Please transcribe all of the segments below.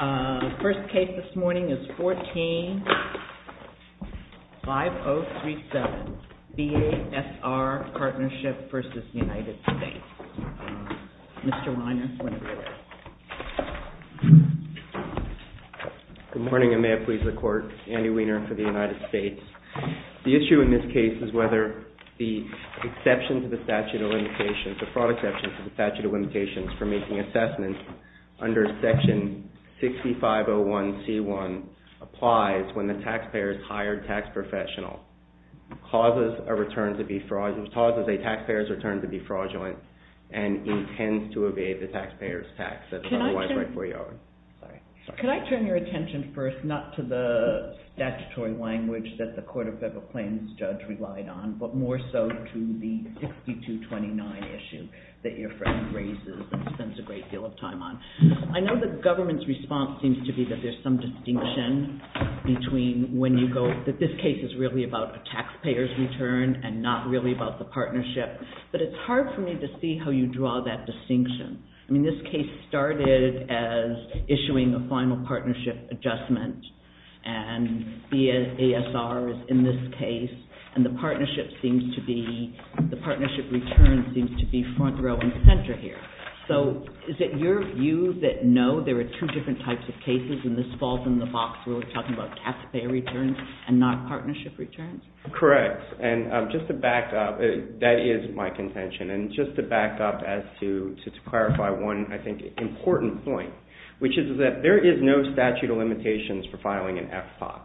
The first case this morning is 14-5037, BASR Partnership v. United States. Mr. Weiner is going to do it. Good morning. I may have pleased the Court. Andy Weiner for the United States. The issue in this case is whether the exception to the statute of limitations, for making assessments under Section 6501C1 applies when the taxpayer's hired tax professional causes a taxpayer's return to be fraudulent and intends to evade the taxpayer's tax. Could I turn your attention first not to the statutory language that the Court of Federal Claims judge relied on, but more so to the 6229 issue that your friend raises and spends a great deal of time on? I know the government's response seems to be that there's some distinction between when you go, that this case is really about a taxpayer's return and not really about the partnership, but it's hard for me to see how you draw that distinction. I mean, this case started as issuing a final partnership adjustment, and BASR is in this case, and the partnership seems to be, the partnership return seems to be front row and center here. So is it your view that, no, there are two different types of cases, and this falls in the box where we're talking about taxpayer returns and not partnership returns? Correct. And just to back up, that is my contention. And just to back up as to clarify one, I think, important point, which is that there is no statute of limitations for filing an FPOT.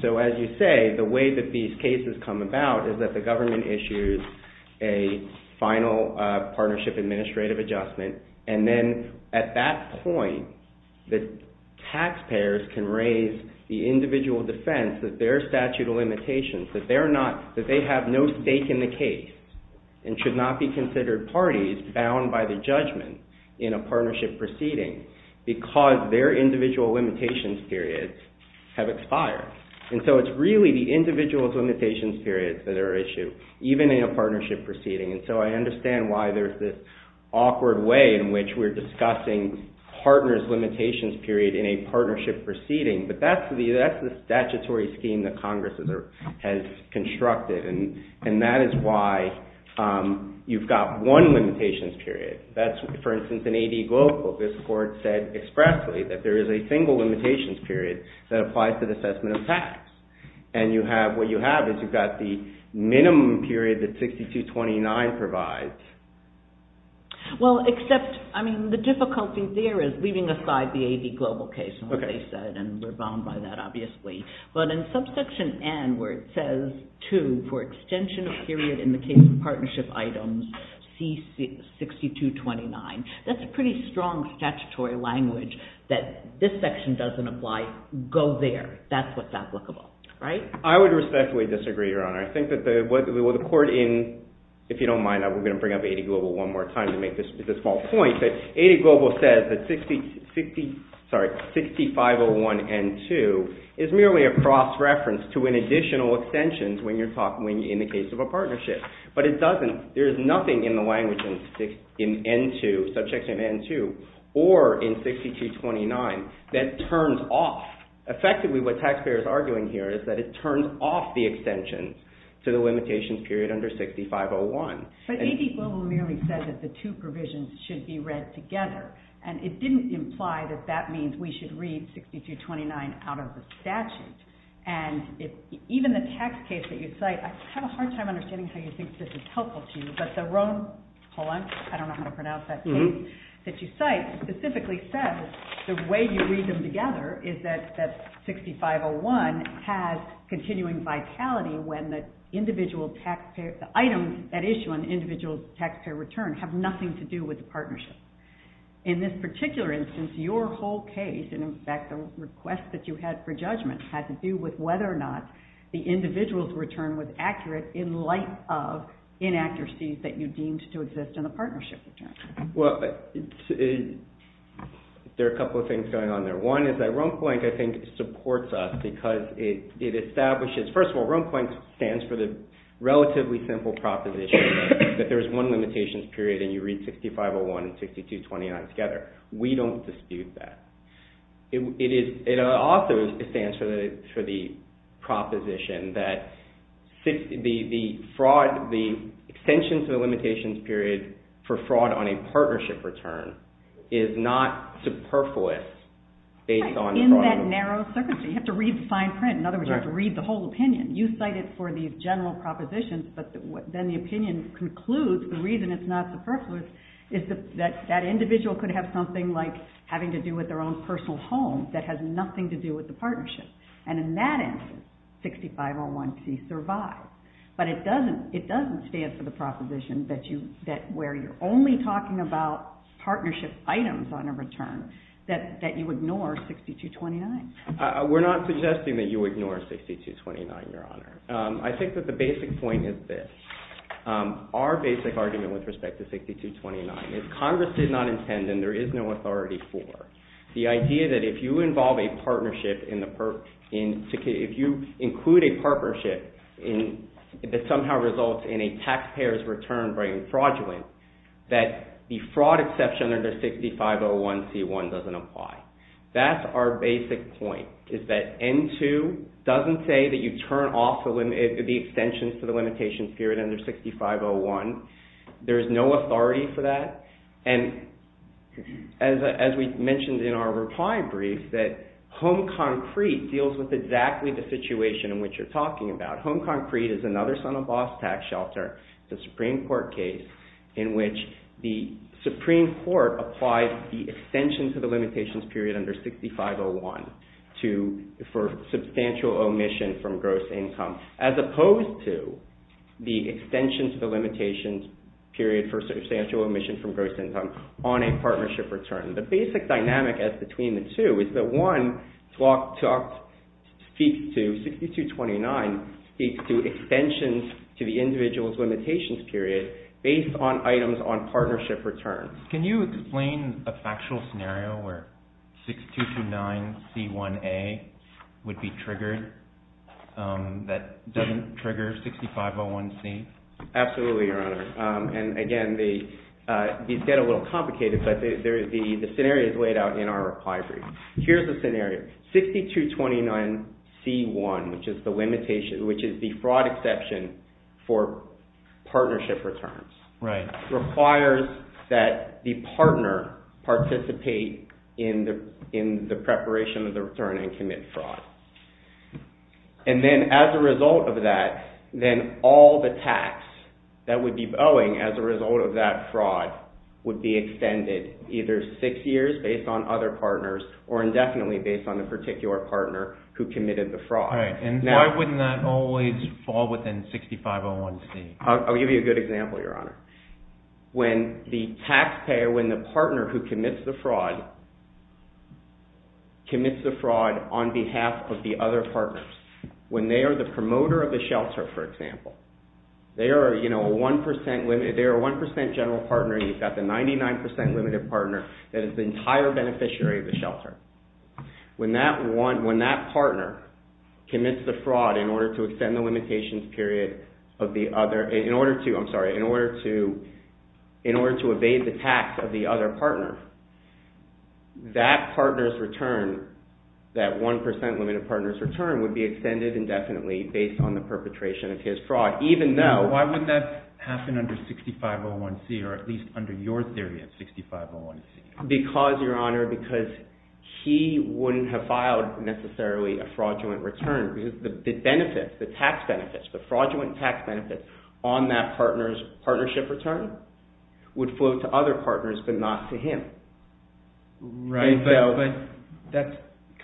So as you say, the way that these cases come about is that the government issues a final partnership administrative adjustment, and then at that point, the taxpayers can raise the individual defense that their statute of limitations, that they have no stake in the case and should not be considered parties bound by the judgment in a partnership proceeding because their individual limitations periods have expired. And so it's really the individual's limitations periods that are issued, even in a partnership proceeding. And so I understand why there's this awkward way in which we're discussing partners' limitations period in a partnership proceeding, but that's the statutory scheme that Congress has constructed, and that is why you've got one limitations period. That's, for instance, in AD Global. This Court said expressly that there is a single limitations period that applies to the assessment of tax. And what you have is you've got the minimum period that 6229 provides. Well, except, I mean, the difficulty there is, leaving aside the AD Global case, and what they said, and we're bound by that, obviously, but in subsection N where it says, too, for extension of period in the case of partnership items, see 6229, that's a pretty strong statutory language that this section doesn't apply. Go there. That's what's applicable. Right? I would respectfully disagree, Your Honor. I think that what the Court in, if you don't mind, we're going to bring up AD Global one more time to make this a small point, but AD Global says that 6501N2 is merely a cross-reference to an additional extension in the case of a partnership. But it doesn't, there is nothing in the language in N2, subsection N2, or in 6229, that turns off, effectively what taxpayers are arguing here is that it turns off the extension to the limitations period under 6501. But AD Global merely says that the two provisions should be read together, and it didn't imply that that means we should read 6229 out of the statute. And even the tax case that you cite, I have a hard time understanding how you think this is helpful to you, but the Rome, hold on, I don't know how to pronounce that case that you cite, specifically says the way you read them together is that 6501 has continuing vitality when the items that issue an individual taxpayer return have nothing to do with the partnership. In this particular instance, your whole case, and in fact the request that you had for judgment, had to do with whether or not the individual's return was accurate in light of inaccuracies that you deemed to exist in the partnership. Well, there are a couple of things going on there. One is that Rome Plank, I think, supports us because it establishes, first of all, Rome Plank stands for the relatively simple proposition that there is one limitations period and you read 6501 and 6229 together. We don't dispute that. It also stands for the proposition that the extension to the limitations period for fraud on a partnership return is not superfluous based on fraud. In that narrow circumstance, you have to read the fine print. In other words, you have to read the whole opinion. You cite it for the general propositions, but then the opinion concludes the reason it's not superfluous is that that individual could have something like having to do with their own personal home that has nothing to do with the partnership. And in that instance, 6501C survives. But it doesn't stand for the proposition that where you're only talking about partnership items on a return, that you ignore 6229. We're not suggesting that you ignore 6229, Your Honor. I think that the basic point is this. Our basic argument with respect to 6229 is Congress did not intend and there is no authority for the idea that if you involve a partnership in the that somehow results in a taxpayer's return being fraudulent, that the fraud exception under 6501C1 doesn't apply. That's our basic point, is that N2 doesn't say that you turn off the extensions to the limitations period under 6501. There is no authority for that. And as we mentioned in our reply brief, that Home Concrete deals with exactly the situation in which you're talking about. Home Concrete is another son-of-a-boss tax shelter. It's a Supreme Court case in which the Supreme Court applies the extension to the limitations period under 6501 for substantial omission from gross income as opposed to the extension to the limitations period for substantial omission from gross income on a partnership return. The basic dynamic between the two is that 1, 6229 speaks to extensions to the individual's limitations period based on items on partnership returns. Can you explain a factual scenario where 6229C1A would be triggered that doesn't trigger 6501C? Absolutely, Your Honor. Again, these get a little complicated, but the scenario is laid out in our reply brief. Here's the scenario. 6229C1, which is the fraud exception for partnership returns, requires that the partner participate in the preparation of the return and commit fraud. As a result of that, then all the tax that would be owing as a result of that fraud would be extended either six years based on other partners or indefinitely based on the particular partner who committed the fraud. Why wouldn't that always fall within 6501C? I'll give you a good example, Your Honor. When the taxpayer, when the partner who commits the fraud on behalf of the other partners, when they are the promoter of the shelter, for example, they are a 1% general partner, you've got the 99% limited partner that is the entire beneficiary of the shelter. When that partner commits the fraud in order to extend the limitations period of the other, in order to, I'm sorry, in order to evade the tax of the other partner, that partner's return, that 1% limited partner's return would be extended indefinitely based on the perpetration of his fraud, even though... Why would that happen under 6501C or at least under your theory of 6501C? Because, Your Honor, because he wouldn't have filed necessarily a fraudulent return. The benefits, the tax benefits, the fraudulent tax benefits on that partner's partnership return would flow to other partners but not to him. Right, but that's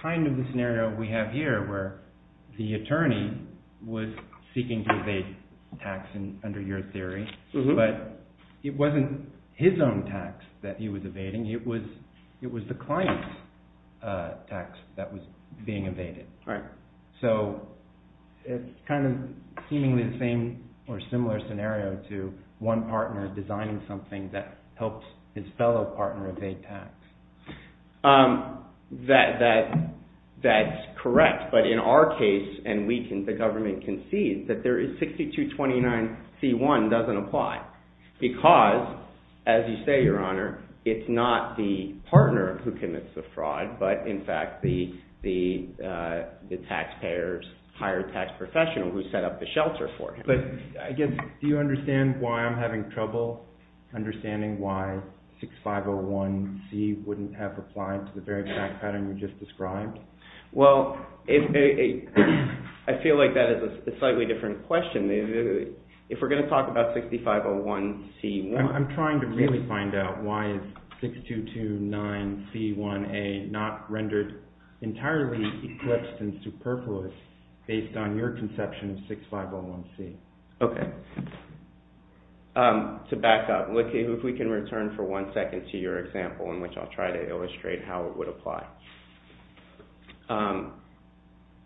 kind of the scenario we have here where the attorney was seeking to evade tax under your theory, but it wasn't his own tax that he was evading, it was the client's tax that was being evaded. So it's kind of seemingly the same or similar scenario to one partner designing something that helped his fellow partner evade tax. That's correct, but in our case, and the government concedes, that 6229C1 doesn't apply because, as you say, Your Honor, it's not the partner who commits the fraud, but in fact the taxpayer's higher tax professional who set up the shelter for him. But, again, do you understand why I'm having trouble understanding why 6501C wouldn't have applied to the very exact pattern you just described? Well, I feel like that is a slightly different question. If we're going to talk about 6501C1... I'm trying to really find out why is 6229C1A not rendered entirely eclipsed and superfluous based on your conception of 6501C? Okay. To back up, if we can return for one second to your example in which I'll try to illustrate how it would apply.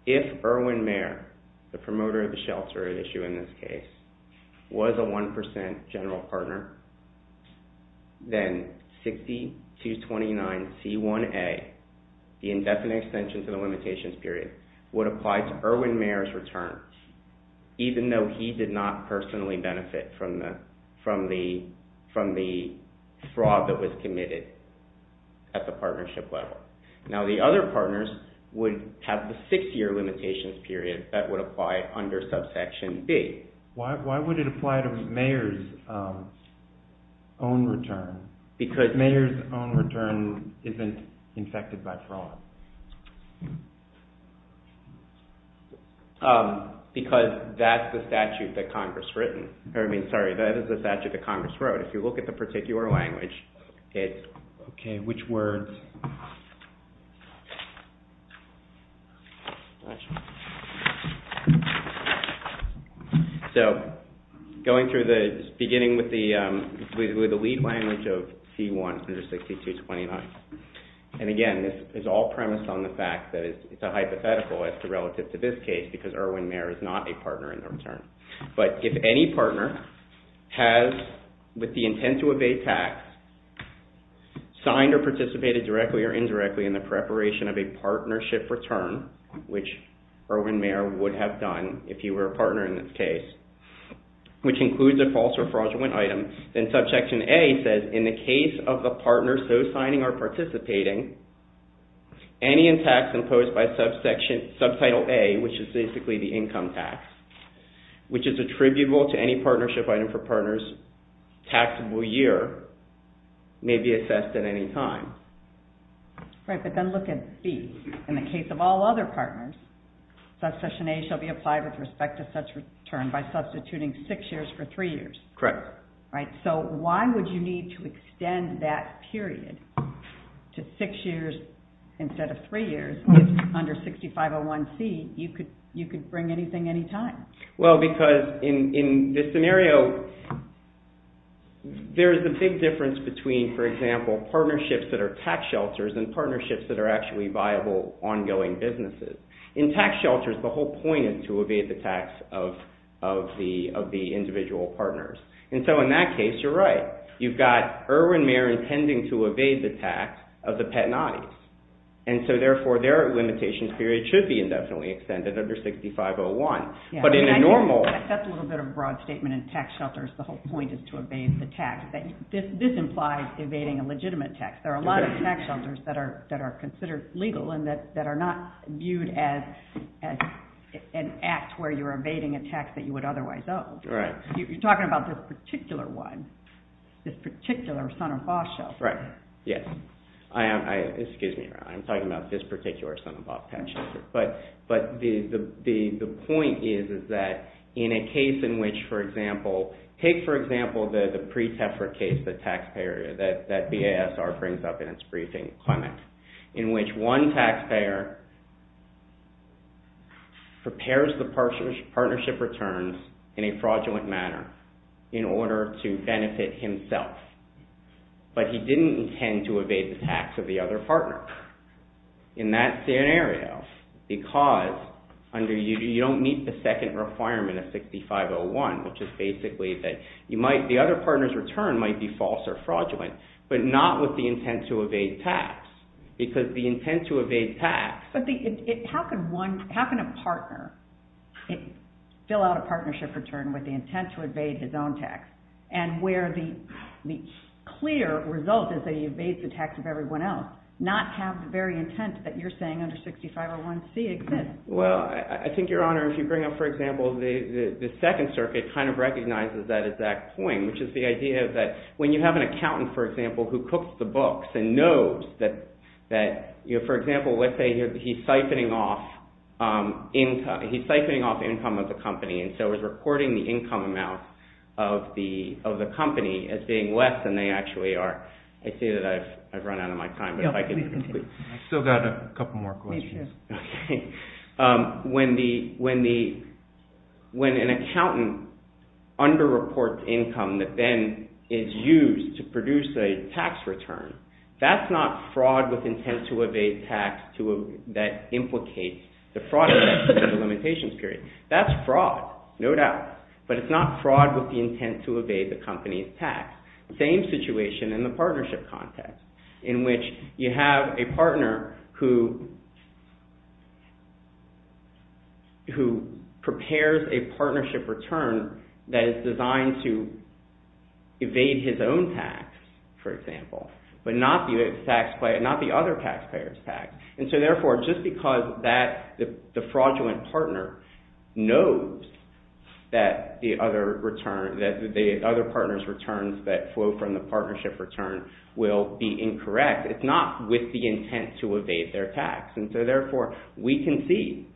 If Erwin Mayer, the promoter of the shelter at issue in this case, was a 1% general partner, then 6229C1A, the indefinite extension to the limitations period, would apply to Erwin Mayer's return, even though he did not personally benefit from the fraud that was committed at the partnership level. Now, the other partners would have the six-year limitations period that would apply under subsection B. Why would it apply to Mayer's own return? Because Mayer's own return isn't infected by fraud. Because that's the statute that Congress wrote. I mean, sorry, that is the statute that Congress wrote. If you look at the particular language, it's... Okay, which words? So, going through the... Beginning with the lead language of C1 under 6229. And again, this is all premised on the fact that it's a hypothetical relative to this case because Erwin Mayer is not a partner in the return. But if any partner has, with the intent to evade tax, signed or participated directly or indirectly in the preparation of a partnership return, which Erwin Mayer would have done if he were a partner in this case, which includes a false or fraudulent item, then subsection A says, in the case of the partner so signing or participating, any in tax imposed by subtitle A, which is basically the income tax, which is attributable to any partnership item for partners taxable year, may be assessed at any time. Right, but then look at B. In the case of all other partners, subsection A shall be applied with respect to such return by substituting six years for three years. Correct. So why would you need to extend that period to six years instead of three years if under 6501C you could bring anything any time? Well, because in this scenario, there is a big difference between, for example, partnerships that are tax shelters and partnerships that are actually viable ongoing businesses. In tax shelters, the whole point is to evade the tax of the individual partners. And so in that case, you're right. You've got Erwin Mayer intending to evade the tax of the Patanais. And so therefore, their limitations period should be indefinitely extended under 6501. But in a normal... That's a little bit of a broad statement. In tax shelters, the whole point is to evade the tax. This implies evading a legitimate tax. There are a lot of tax shelters that are considered legal and that are not viewed as an act where you're evading a tax that you would otherwise owe. Right. You're talking about this particular one, this particular son-of-a-boss shelter. Right. Yes. Excuse me. I'm talking about this particular son-of-a-boss tax shelter. But the point is that in a case in which, for example, take, for example, the pre-TEFRA case, the taxpayer, that BASR brings up in its briefing comment, in which one taxpayer prepares the partnership returns in a fraudulent manner in order to benefit himself. But he didn't intend to evade the tax of the other partner. In that scenario, because you don't meet the second requirement of 6501, which is basically that the other partner's return might be false or fraudulent, but not with the intent to evade tax. Because the intent to evade tax... But how can a partner fill out a partnership return with the intent to evade his own tax? And where the clear result is that he evades the tax of everyone else, not have the very intent that you're saying under 6501C exists. Well, I think, Your Honor, if you bring up, for example, the Second Circuit kind of recognizes that at that point, which is the idea that when you have an accountant, for example, who cooks the books and knows that... For example, let's say he's siphoning off income of the company and so he's reporting the income amount of the company as being less than they actually are. I see that I've run out of my time, but if I could... I've still got a couple more questions. When an accountant under-reports income that then is used to produce a tax return, that's not fraud with intent to evade tax that implicates the fraud of the limitations period. That's fraud, no doubt. But it's not fraud with the intent to evade the company's tax. Same situation in the partnership context in which you have a partner who prepares a partnership return that is designed to evade his own tax, for example, but not the other taxpayer's tax. And so, therefore, just because the fraudulent partner knows that the other partner's returns that flow from the partnership return will be incorrect, it's not with the intent to evade their tax. And so, therefore, we can see...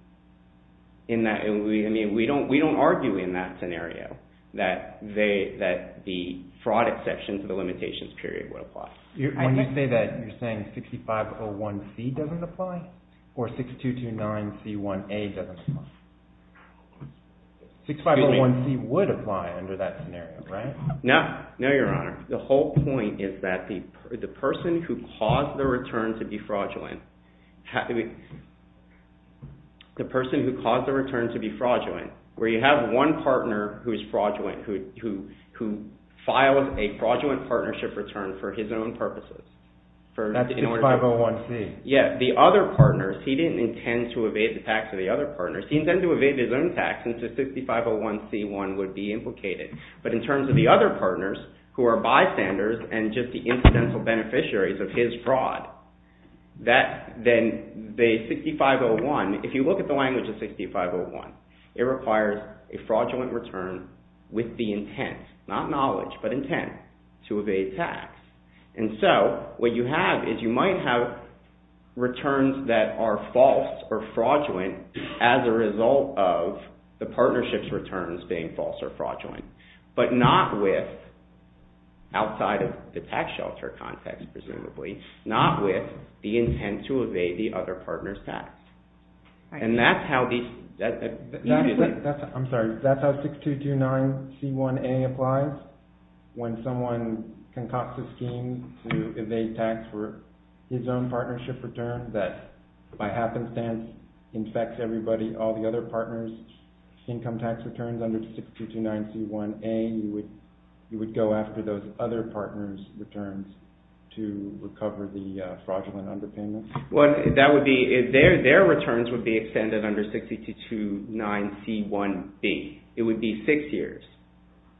We don't argue in that scenario that the fraud exception to the limitations period would apply. And you say that you're saying 6501C doesn't apply? Or 6229C1A doesn't apply? 6501C would apply under that scenario, right? No, Your Honor. The whole point is that the person who caused the return to be fraudulent... The person who caused the return to be fraudulent, where you have one partner who is fraudulent, who files a fraudulent partnership return for his own purposes... That's 6501C. Yeah, the other partners, he didn't intend to evade the tax of the other partners. He intended to evade his own tax, and so 6501C1 would be implicated. But in terms of the other partners, who are bystanders and just the incidental beneficiaries of his fraud, then the 6501... If you look at the language of 6501, it requires a fraudulent return with the intent, not knowledge, but intent, to evade tax. And so what you have is you might have returns that are false or fraudulent as a result of the partnership's returns being false or fraudulent, but not with... Outside of the tax shelter context, presumably. Not with the intent to evade the other partner's tax. And that's how these... I'm sorry. That's how 6229C1A applies? When someone concocts a scheme to evade tax for his own partnership return that, by happenstance, infects everybody, all the other partners' income tax returns you would go after those other partners' returns to recover the fraudulent underpayments? Well, that would be... Their returns would be extended under 6229C1B. It would be six years.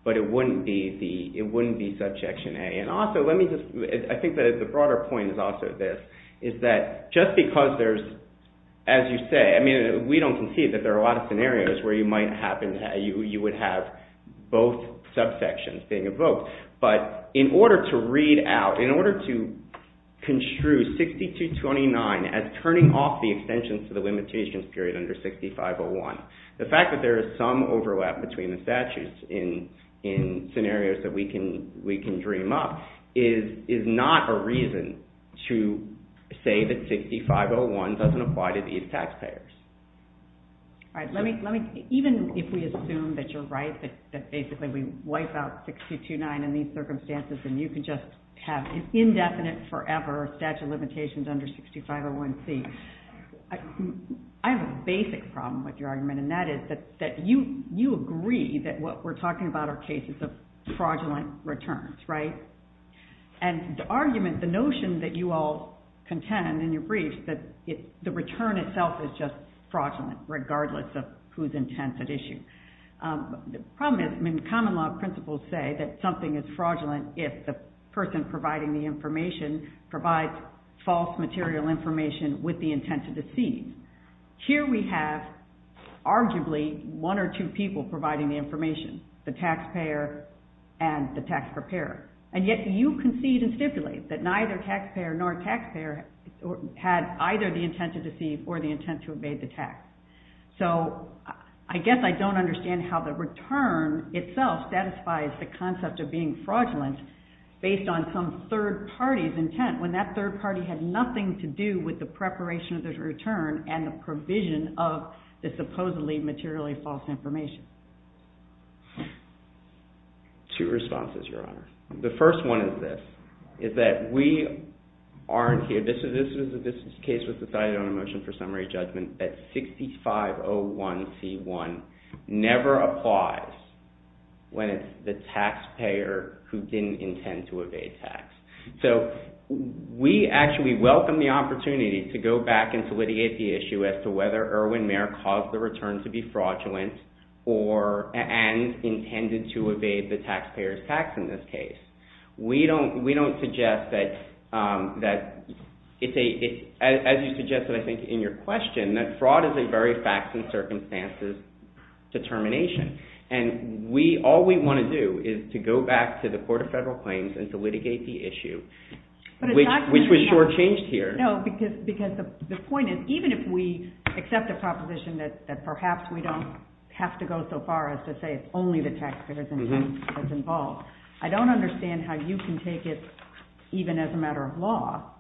But it wouldn't be Subsection A. And also, let me just... I think that the broader point is also this, is that just because there's... As you say, I mean, we don't concede that there are a lot of scenarios where you might happen... You would have both subsections being evoked. But in order to read out, in order to construe 6229 as turning off the extension to the limitations period under 6501, the fact that there is some overlap between the statutes in scenarios that we can dream up is not a reason to say that 6501 doesn't apply to these taxpayers. All right. Even if we assume that you're right, that basically we wipe out 6229 in these circumstances and you can just have an indefinite forever statute of limitations under 6501C, I have a basic problem with your argument, and that is that you agree that what we're talking about are cases of fraudulent returns, right? And the argument, the notion that you all contend in your brief that the return itself is just fraudulent, regardless of who's intent at issue. The problem is, I mean, common law principles say that something is fraudulent if the person providing the information provides false material information with the intent to deceive. Here we have, arguably, one or two people providing the information, the taxpayer and the tax preparer. And yet you concede and stipulate that neither taxpayer nor taxpayer had either the intent to deceive or the intent to evade the tax. So, I guess I don't understand how the return itself satisfies the concept of being fraudulent based on some third party's intent when that third party had nothing to do with the preparation of the return and the provision of the supposedly materially false information. Two responses, Your Honor. The first one is this, is that we aren't here, this is a case with the decided on a motion for summary judgment that 6501C1 never applies when it's the taxpayer who didn't intend to evade tax. So, we actually welcome the opportunity to go back and to litigate the issue as to whether Irwin Mayer caused the return to be fraudulent and intended to evade the taxpayer's tax in this case. We don't suggest that as you suggested, I think, in your question that fraud is a very facts and circumstances determination. And all we want to do is to go back to the Court of Federal Claims and to litigate the issue which was shortchanged here. No, because the point is even if we accept the proposition that perhaps we don't have to go so far as to say it's only the taxpayer's intent that's involved. I don't understand how you can take it even as a matter of law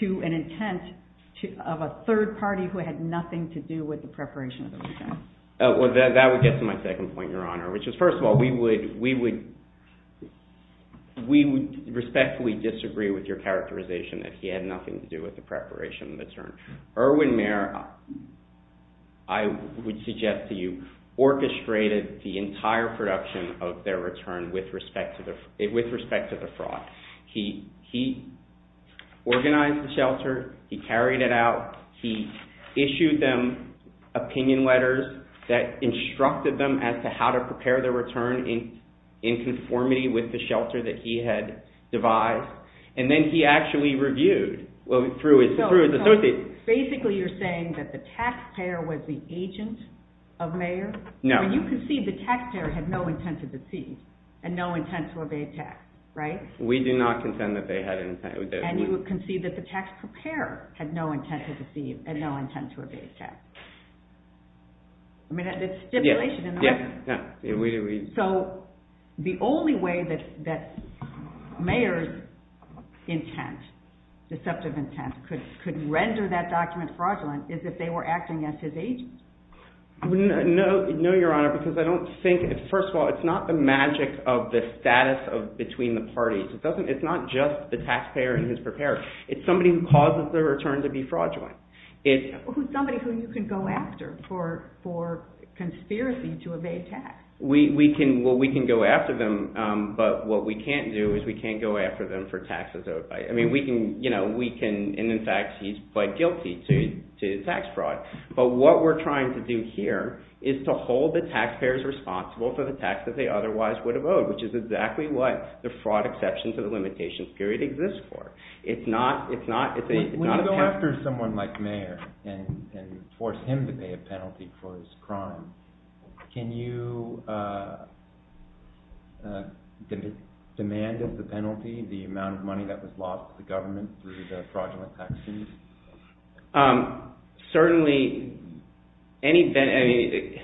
to an intent of a third party who had nothing to do with the preparation of the return. That would get to my second point, Your Honor. First of all, we would respectfully disagree with your characterization that he had nothing to do with the preparation of the return. Irwin Mayer, I would suggest to you, orchestrated the entire production of their return with respect to the fraud. He organized the shelter. He carried it out. He issued them opinion letters that instructed them as to how to prepare their return in conformity with the shelter that he had devised. And then he actually reviewed through his associates. Basically, you're saying that the taxpayer was the agent of Mayer? No. You concede the taxpayer had no intent to deceive and no intent to obey tax, right? We do not contend that they had an intent. And you concede that the taxpayer had no intent to deceive and no intent to obey tax. I mean, that's stipulation in the record. Yeah. So, the only way that Mayer's intent, deceptive intent, could render that document fraudulent is if they were acting as his agents. No, Your Honor, because I don't think, first of all, it's not the magic of the status between the parties. It's not just the taxpayer and his preparer. It's somebody who causes the return to be fraudulent. Somebody who you can go after for conspiracy to obey tax. Well, we can go after them, but what we can't do is we can't go after them for taxes. I mean, we can, you know, we can, and in fact, he's quite guilty to tax fraud. But what we're trying to do here is to hold the taxpayers responsible for the tax that they otherwise would have owed, which is exactly what the fraud exception to the limitations period exists for. It's not, it's not, it's a, it's not a tax... When you go after someone like Mayer and force him to pay a penalty for his crime, can you demand of the penalty the amount of money that was lost to the government through the fraudulent tax fees? Certainly, any, I mean...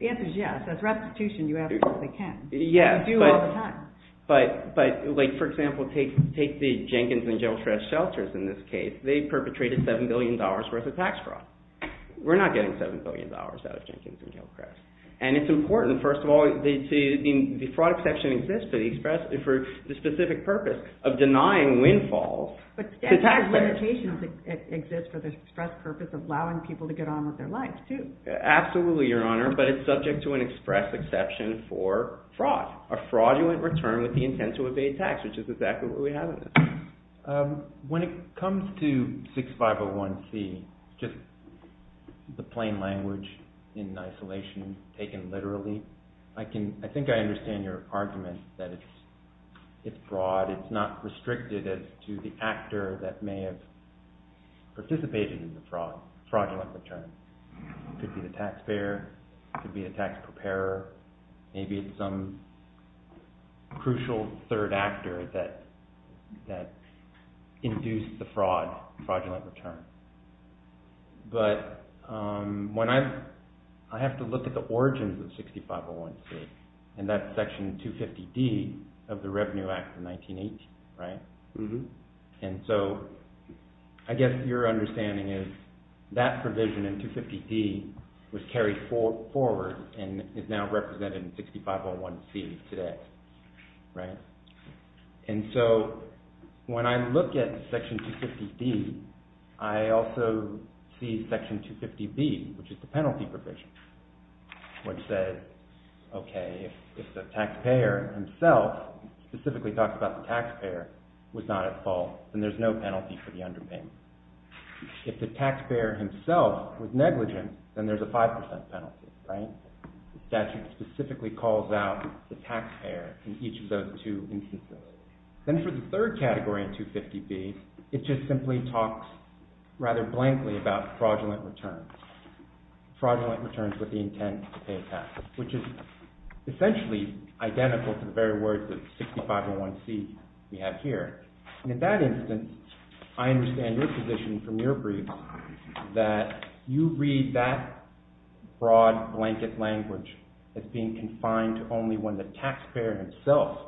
The answer is yes. As a restitution, you absolutely can. Yes, but... You do all the time. But, but, like, for example, take, take the Jenkins and Gilchrest shelters in this case. They perpetrated $7 billion worth of tax fraud. We're not getting $7 billion out of Jenkins and Gilchrest. And it's important, first of all, the fraud exception exists for the specific purpose of denying windfalls to taxpayers. But limitations exist for the express purpose of allowing people to get on with their lives, too. Absolutely, Your Honor, but it's subject to an express exception for fraud. A fraudulent return with the intent to evade tax, which is exactly what we have in this case. When it comes to 6501C, just the plain language in isolation, taken literally, I can, I think I understand your argument that it's, it's fraud. It's not restricted as to the actor that may have participated in the fraud, fraudulent return. It could be the taxpayer. It could be a tax preparer. Maybe it's some crucial third actor that, that induced the fraud, fraudulent return. But when I, I have to look at the origins of 6501C and that's section 250D of the Revenue Act of 1918, right? Mm-hmm. And so I guess your understanding is that provision in 250D was carried forward and is now represented in 6501C today, right? And so when I look at section 250D, I also see section 250B, which is the penalty provision, which says, okay, if the taxpayer himself specifically talks about the taxpayer was not at fault, then there's no penalty for the underpayment. If the taxpayer himself was negligent, then there's a 5% penalty, right? The statute specifically calls out the taxpayer in each of those two instances. Then for the third category in 250B, it just simply talks rather blankly about fraudulent returns, fraudulent returns with the intent to pay taxes, which is essentially identical to the very words of 6501C we have here. And in that instance, I understand your position from your brief that you read that broad blanket language as being confined to only when the taxpayer itself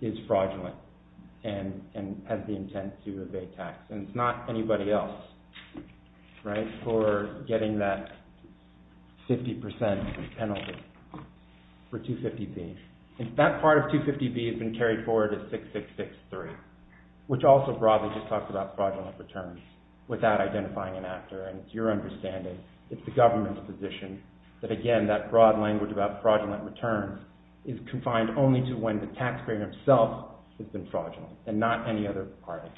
is fraudulent and has the intent to pay tax, and it's not anybody else, right, for getting that 50% penalty for 250B. And that part of 250B has been carried forward to 6663, which also broadly just talks about fraudulent returns without identifying an actor, and it's your understanding, it's the government's position, that again that broad language about fraudulent returns is confined only to when the taxpayer himself has been fraudulent and not any other party.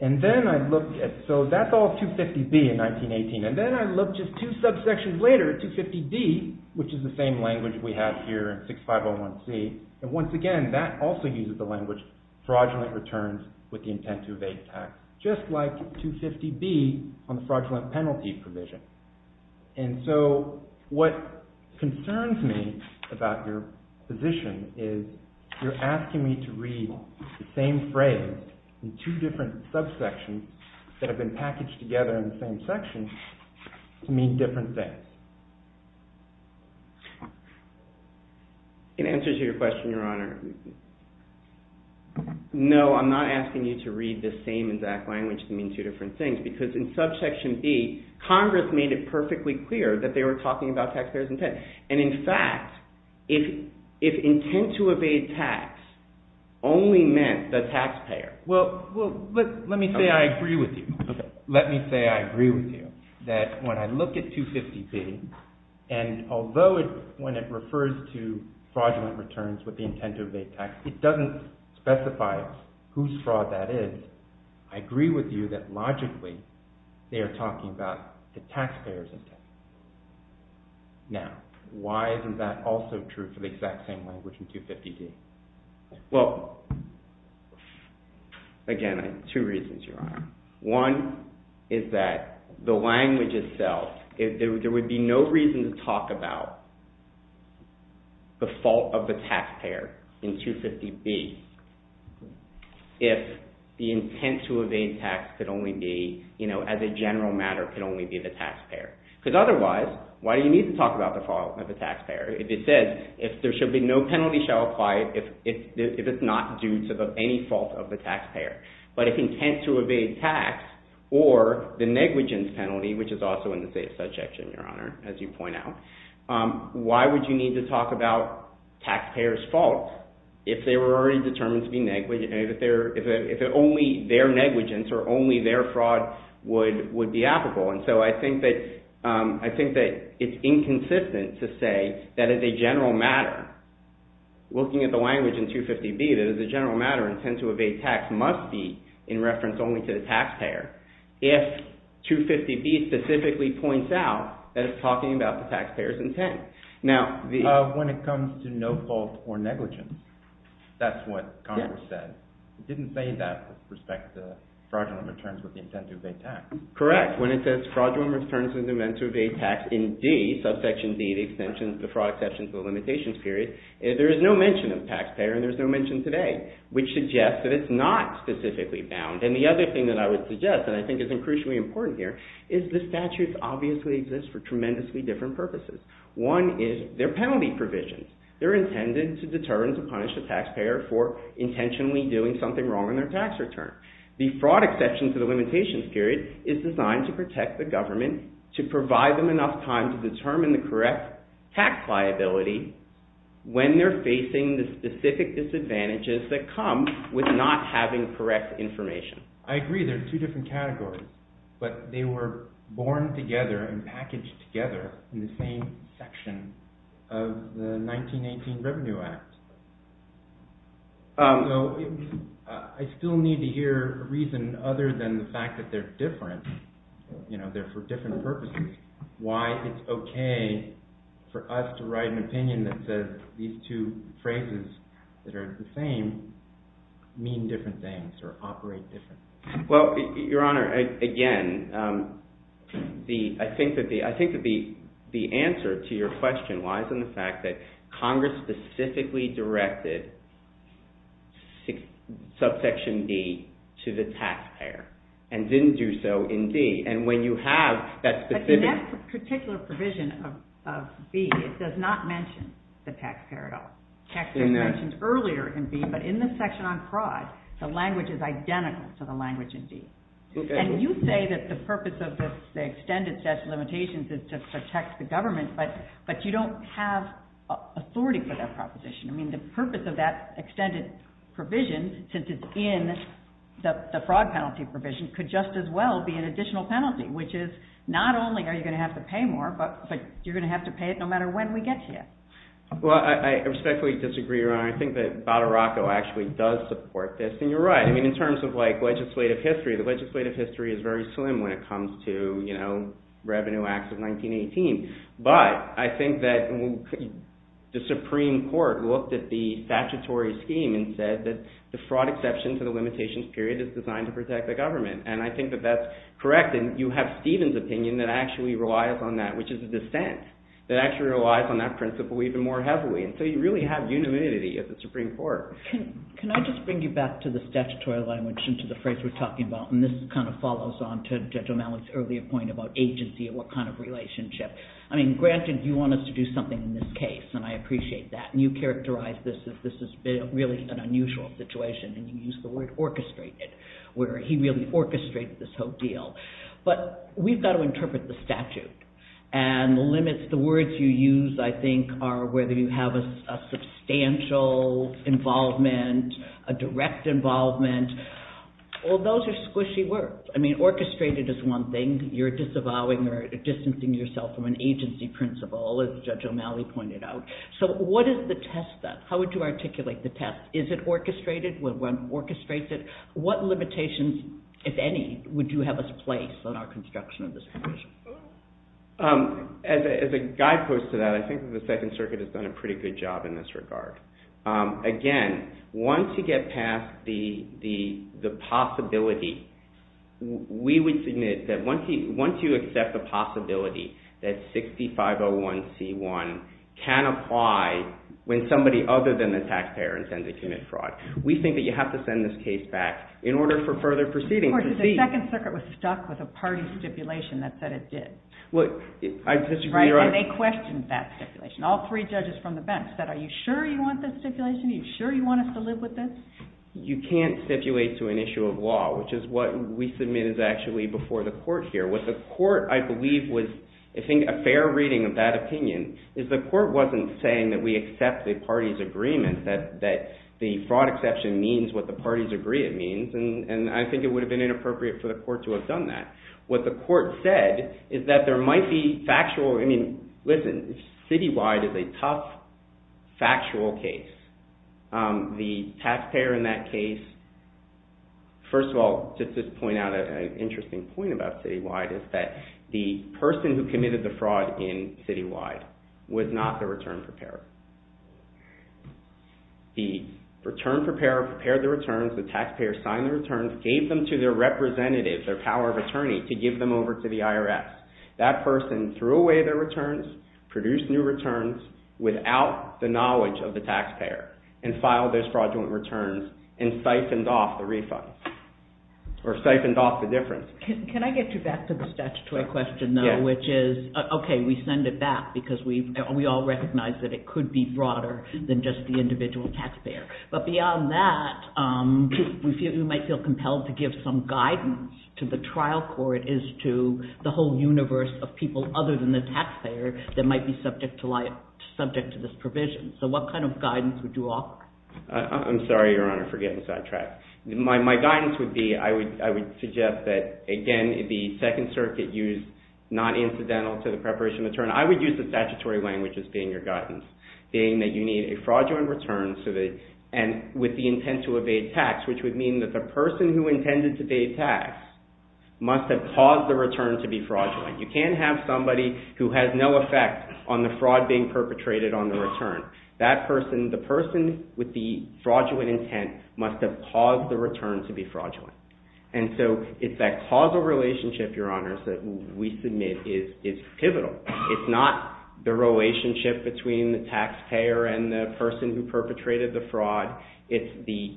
And then I looked at, so that's all 250B in 1918, and then I looked just two subsections later at 250D, which is the same language we have here in 6501C, and once again that also uses the language fraudulent returns with the intent to evade tax, just like 250B on the fraudulent penalty provision. And so what concerns me about your position is you're asking me to read the same phrase in two different subsections that have been packaged together in the same section to mean different things. It answers your question, Your Honor. No, I'm not asking you to read the same exact language to mean two different things, because in subsection B, Congress made it perfectly clear that they were talking about taxpayer's intent. And in fact, if intent to evade tax only meant the taxpayer. Well, let me say I agree with you. Let me say I agree with you that when I look at 250B, and although when it refers to fraudulent returns with the intent to evade tax, it doesn't specify whose fraud that is, I agree with you that logically they are talking about the taxpayer's intent. Now, why isn't that also true for the exact same language in 250D? Well, again, I have two reasons, Your Honor. One is that the language itself, there would be no reason to talk about the fault of the taxpayer in 250B if the intent to evade tax could only be, you know, as a general matter, could only be the taxpayer. Because otherwise, why do you need to talk about the fault of the taxpayer? If it says, if there shall be no penalty shall apply if it's not due to any fault of the taxpayer. But if intent to evade tax, or the negligence penalty, which is also in the same subject, Your Honor, as you point out, why would you need to talk about taxpayer's fault if they were already determined to be negligent, if only their negligence or only their fraud would be applicable? And so I think that it's inconsistent to say that as a general matter, looking at the language in 250B, intent to evade tax must be in reference only to the taxpayer. If 250B specifically points out that it's talking about the taxpayer's intent. Now, the... When it comes to no fault or negligence, that's what Congress said. It didn't say that with respect to fraudulent returns with the intent to evade tax. Correct. When it says fraudulent returns with the intent to evade tax in D, subsection D, the extensions, the fraud exceptions, the limitations period, there is no mention of taxpayer and there's no mention today, which suggests that it's not specifically bound. And the other thing that I would suggest, and I think it's crucially important here, is the statutes obviously exist for tremendously different purposes. One is their penalty provisions. They're intended to determine to punish the taxpayer for intentionally doing something wrong in their tax return. The fraud exception to the limitations period is designed to protect the government, to provide them enough time to determine the correct tax liability when they're facing the specific disadvantages that come with not having correct information. I agree. They're two different categories. But they were born together and packaged together in the same section of the 1918 Revenue Act. I still need to hear a reason other than the fact that they're different. You know, they're for different purposes. Why it's okay for us to write an opinion that says these two phrases that are the same mean different things or operate differently. Well, Your Honor, again, I think that the answer to your question lies in the fact that Congress specifically directed subsection D to the taxpayer and didn't do so in D. And when you have that specific... But in that particular provision of B, it does not mention the taxpayer at all. Taxpayers mentioned earlier in B, but in the section on fraud, the language is identical to the language in D. And you say that the purpose of the extended statute of limitations is to protect the government, but you don't have authority for that proposition. I mean, the purpose of that extended provision, since it's in the fraud penalty provision, could just as well be an additional penalty, which is not only are you going to have to pay more, but you're going to have to pay it no matter when we get to you. Well, I respectfully disagree, Your Honor. I think that Badaracco actually does support this. And you're right. In terms of legislative history, the legislative history is very slim when it comes to Revenue Acts of 1918. But I think that the Supreme Court looked at the statutory scheme and said that the fraud exception to the limitations period is designed to protect the government. And I think that that's correct. And you have Stephen's opinion that actually relies on that, which is a dissent that actually relies on that principle even more heavily. And so you really have unanimity at the Supreme Court. Can I just bring you back to the statutory language and to the phrase we're talking about? And this kind of follows on to Judge O'Malley's earlier point about agency and what kind of relationship. I mean, granted, you want us to do something in this case, and I appreciate that. And you characterize this as this is really an unusual situation, and you use the word orchestrated, where he really orchestrated this whole deal. But we've got to interpret the statute, and the limits, the words you use, I think, are whether you have a substantial involvement, a direct involvement. Well, those are squishy words. I mean, orchestrated is one thing. You're disavowing or distancing yourself from an agency principle, as Judge O'Malley pointed out. So what is the test then? How would you articulate the test? Is it orchestrated when one orchestrates it? What limitations, if any, would you have us place on our construction of this provision? As a guidepost to that, I think that the Second Circuit has done a pretty good job in this regard. Again, once you get past the possibility, we would submit that once you accept the possibility that 6501c1 can apply when somebody other than the taxpayer intends to commit fraud, we think that you have to send this case back in order for further proceedings. Of course, the Second Circuit was stuck with a party stipulation that said it did. Well, I disagree. Right, and they questioned that stipulation. All three judges from the bench said, are you sure you want this stipulation? Are you sure you want us to live with this? You can't stipulate to an issue of law, which is what we submit as actually before the court here. What the court, I believe, was, I think a fair reading of that opinion, is the court wasn't saying that we accept the party's agreement that the fraud exception means what the party's agreement means, and I think it would have been inappropriate for the court to have done that. What the court said is that there might be factual, I mean, listen, Citywide is a tough, factual case. The taxpayer in that case, first of all, just to point out an interesting point about Citywide, is that the person who committed the fraud in Citywide was not the return preparer. The return preparer prepared the returns, the taxpayer signed the returns, gave them to their representative, their power of attorney, to give them over to the IRS. That person threw away their returns, produced new returns, without the knowledge of the taxpayer, and filed those fraudulent returns and siphoned off the refunds, or siphoned off the difference. Can I get you back to the statutory question, though, which is, okay, we send it back because we all recognize that it could be broader than just the individual taxpayer, but beyond that, we might feel compelled to give some guidance to the trial court as to the whole universe of people other than the taxpayer that might be subject to this provision. So what kind of guidance would you offer? I'm sorry, Your Honor, for getting sidetracked. My guidance would be, I would suggest that, again, the Second Circuit used not incidental to the preparation of the return. I would use the statutory language as being your guidance, being that you need a fraudulent return with the intent to evade tax, which would mean that the person who intended to evade tax must have caused the return to be fraudulent. You can't have somebody who has no effect on the fraud being perpetrated on the return. That person, the person with the fraudulent intent, must have caused the return to be fraudulent. And so it's that causal relationship, Your Honor, that we submit is pivotal. It's not the relationship between the taxpayer and the person who perpetrated the fraud. It's the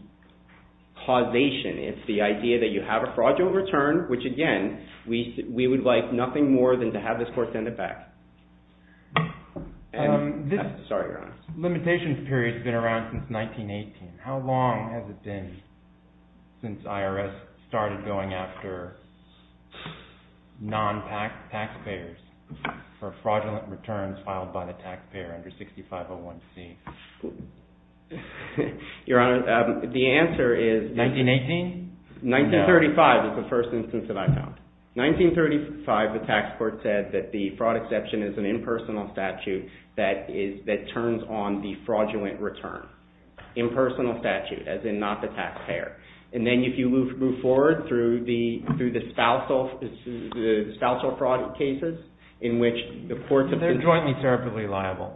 causation. It's the idea that you have a fraudulent return, which, again, we would like nothing more than to have this court send it back. Sorry, Your Honor. Limitation period's been around since 1918. How long has it been since IRS started going after non-taxpayers for fraudulent returns filed by the taxpayer under 6501C? Your Honor, the answer is... 1918? No. 1935 is the first instance that I found. 1935, the tax court said that the fraud exception is an impersonal statute that turns on the fraudulent return. Impersonal statute, as in not the taxpayer. And then if you move forward through the spousal fraud cases in which the courts... They're jointly therapeutically liable.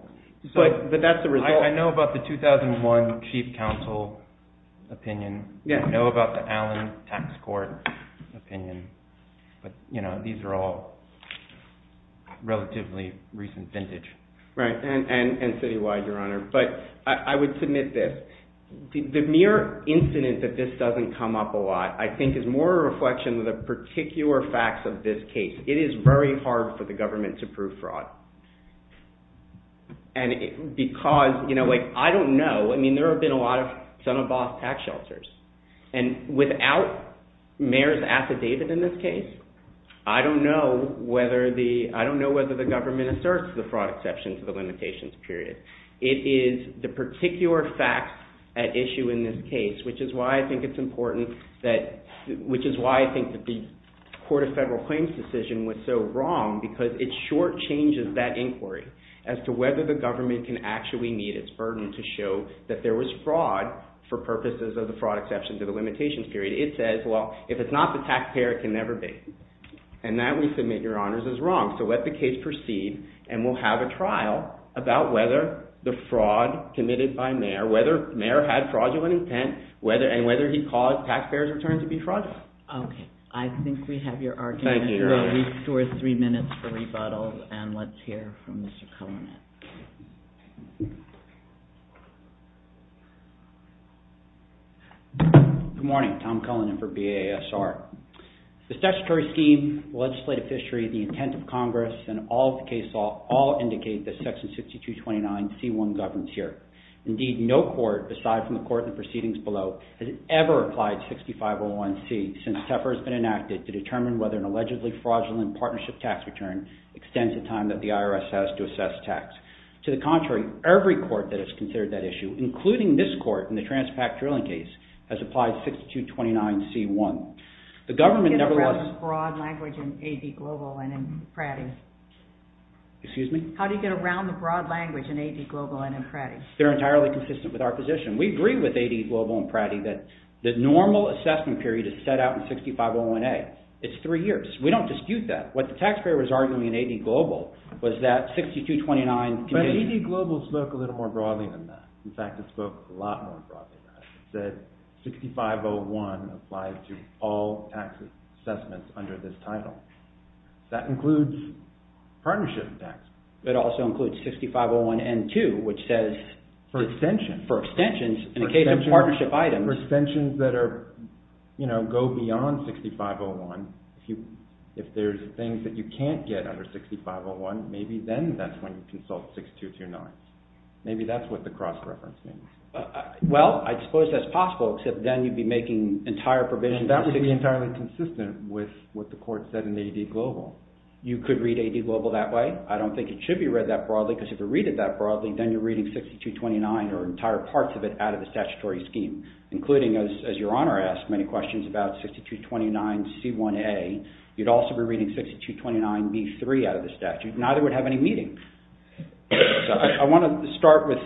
But that's the result... I know about the 2001 Chief Counsel opinion. I know about the Allen Tax Court opinion. But, you know, these are all relatively recent vintage. Right, and citywide, Your Honor. But I would submit this. The mere incident that this doesn't come up a lot, I think, is more a reflection of the particular facts of this case. It is very hard for the government to prove fraud. Because, you know, I don't know. I mean, there have been a lot of son-of-a-boss tax shelters. And without Mayor's affidavit in this case, I don't know whether the... I don't know whether the government asserts the fraud exception to the limitations period. at issue in this case which is why I think it's important that... which is why I think the Court of Federal Claims decision was so wrong because it short-changes that inquiry as to whether the government can actually meet its burden to show that there was fraud for purposes of the fraud exception to the limitations period. It says, well, if it's not the taxpayer, it can never be. And that, we submit, Your Honors, is wrong. So let the case proceed and we'll have a trial about whether the fraud committed by Mayor, whether Mayor had fraudulent intent, and whether he caused taxpayer's return to be fraudulent. Okay. I think we have your argument. Thank you, Your Honor. We have two or three minutes for rebuttal and let's hear from Mr. Cullinan. Good morning. Tom Cullinan for BASR. The statutory scheme, the legislative history, the intent of Congress, and all of the case law all indicate that Section 6229C1 governs here. Indeed, no court, aside from the court and the proceedings below, has ever applied 6501C since TEFR has been enacted to determine whether an allegedly fraudulent partnership tax return extends the time that the IRS has to assess tax. To the contrary, every court that has considered that issue, including this court in the Transpact Drilling case, has applied 6229C1. The government never... How do you get around the broad language in AD Global and in Pratty? Excuse me? How do you get around the broad language in AD Global and in Pratty? They're entirely consistent with our position. We agree with AD Global and Pratty that the normal assessment period is set out in 6501A. It's three years. We don't dispute that. What the taxpayer was arguing in AD Global was that 6229... But AD Global spoke a little more broadly than that. In fact, it spoke a lot more broadly than that. It said 6501 applies to all tax assessments under this title. That includes partnership tax. It also includes 6501N2, which says... For extensions. For extensions, in the case of partnership items. For extensions that are, you know, go beyond 6501. If there's things that you can't get under 6501, maybe then that's when you consult 6229. Maybe that's what the cross-reference means. Well, I suppose that's possible, except then you'd be making entire provisions... And that would be entirely consistent with what the court said in AD Global. You could read AD Global that way. I don't think it should be read that broadly because if you read it that broadly, then you're reading 6229 or entire parts of it out of the statutory scheme, including, as Your Honor asked many questions about 6229C1A. You'd also be reading 6229B3 out of the statute. Neither would have any meaning. So I want to start with...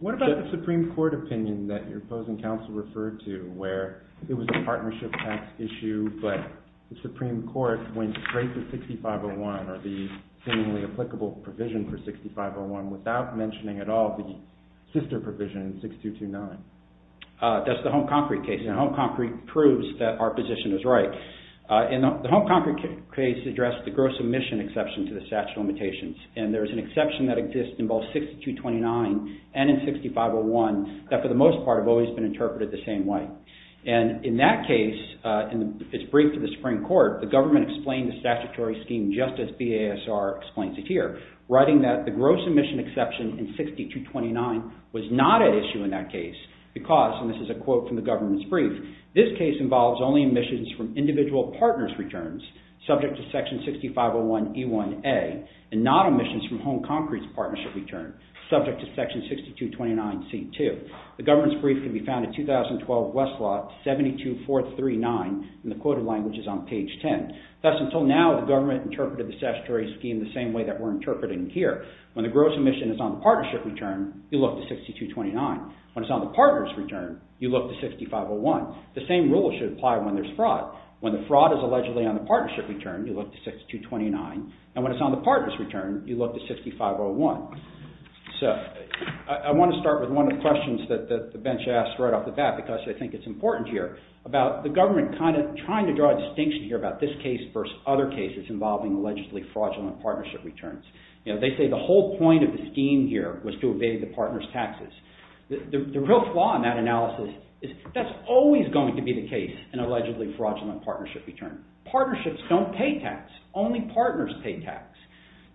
What about the Supreme Court opinion that your opposing counsel referred to where it was a partnership tax issue, but the Supreme Court went straight to 6501 or the seemingly applicable provision for 6501 without mentioning at all the sister provision, 6229? That's the Home Concrete case, and Home Concrete proves that our position is right. The Home Concrete case addressed the gross emission exception to the statute of limitations, and there's an exception that exists in both 6229 and in 6501 that for the most part have always been interpreted the same way. And in that case, in its brief to the Supreme Court, the government explained the statutory scheme just as BASR explains it here, writing that the gross emission exception in 6229 was not an issue in that case because, and this is a quote from the government's brief, this case involves only emissions from individual partners' returns subject to section 6501E1A and not emissions from Home Concrete's partnership return subject to section 6229C2. The government's brief can be found in 2012 Westlaw 72439, and the quoted language is on page 10. Thus, until now, the government interpreted the statutory scheme the same way that we're interpreting it here. When the gross emission is on the partnership return, you look to 6229. When it's on the partner's return, you look to 6501. The same rule should apply when there's fraud. When the fraud is allegedly on the partnership return, you look to 6229. And when it's on the partner's return, you look to 6501. So, I want to start with one of the questions that the bench asked right off the bat because I think it's important here about the government kind of trying to draw a distinction here about this case versus other cases involving allegedly fraudulent partnership returns. You know, they say that the whole point of the scheme here was to evade the partner's taxes. The real flaw in that analysis is that's always going to be the case in allegedly fraudulent partnership return. Partnerships don't pay tax. Only partners pay tax.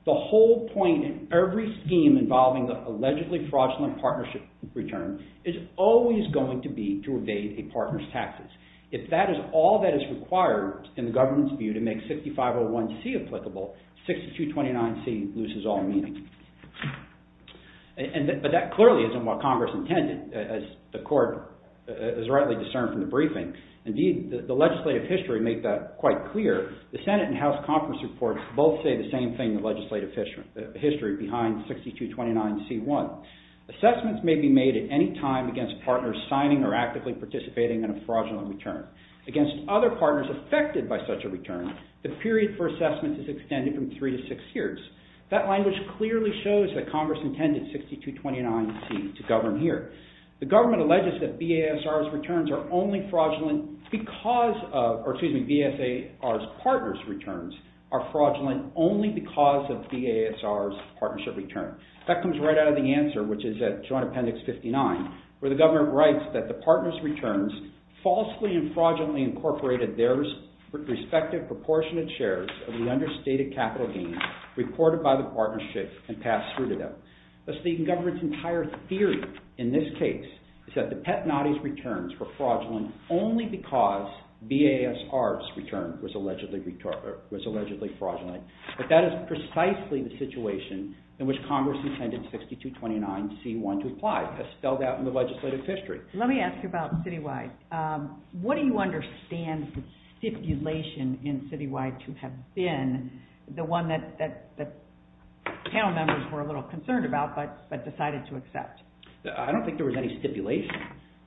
The whole point in every scheme involving the allegedly fraudulent partnership return is always going to be to evade a partner's taxes. If that is all that is required in the government's view to make 6501c applicable, 6229c loses all meaning. But that clearly isn't what Congress intended as the court is rightly discerned from the briefing. Indeed, the legislative history made that quite clear. The Senate and House conference reports both say the same thing in the legislative history behind 6229c-1. Assessments may be made at any time against partners signing or actively participating in a fraudulent return. Against other partners affected by such a return, the period for assessment is extended from 3 to 6 years. That language clearly shows that Congress intended 6229c to govern here. The government alleges that BASR's returns are only fraudulent because of, or excuse me, BASR's partners' returns are fraudulent only because of BASR's partnership return. That comes right out of the answer, which is at Joint Appendix 59, where the government writes that the partners' returns falsely and fraudulently incorporated their respective proportionate shares of the understated capital gains reported by the partnership and passed through to them. Thus, the government's entire theory in this case is that the Petnati's returns were fraudulent only because BASR's return was allegedly fraudulent. But that is precisely the situation in which Congress intended 6229c-1 to apply. That's spelled out in the legislative history. Let me ask you about Citywide. What do you understand the stipulation in Citywide to have been the one that panel members were a little concerned about but decided to accept? I don't think there was any stipulation.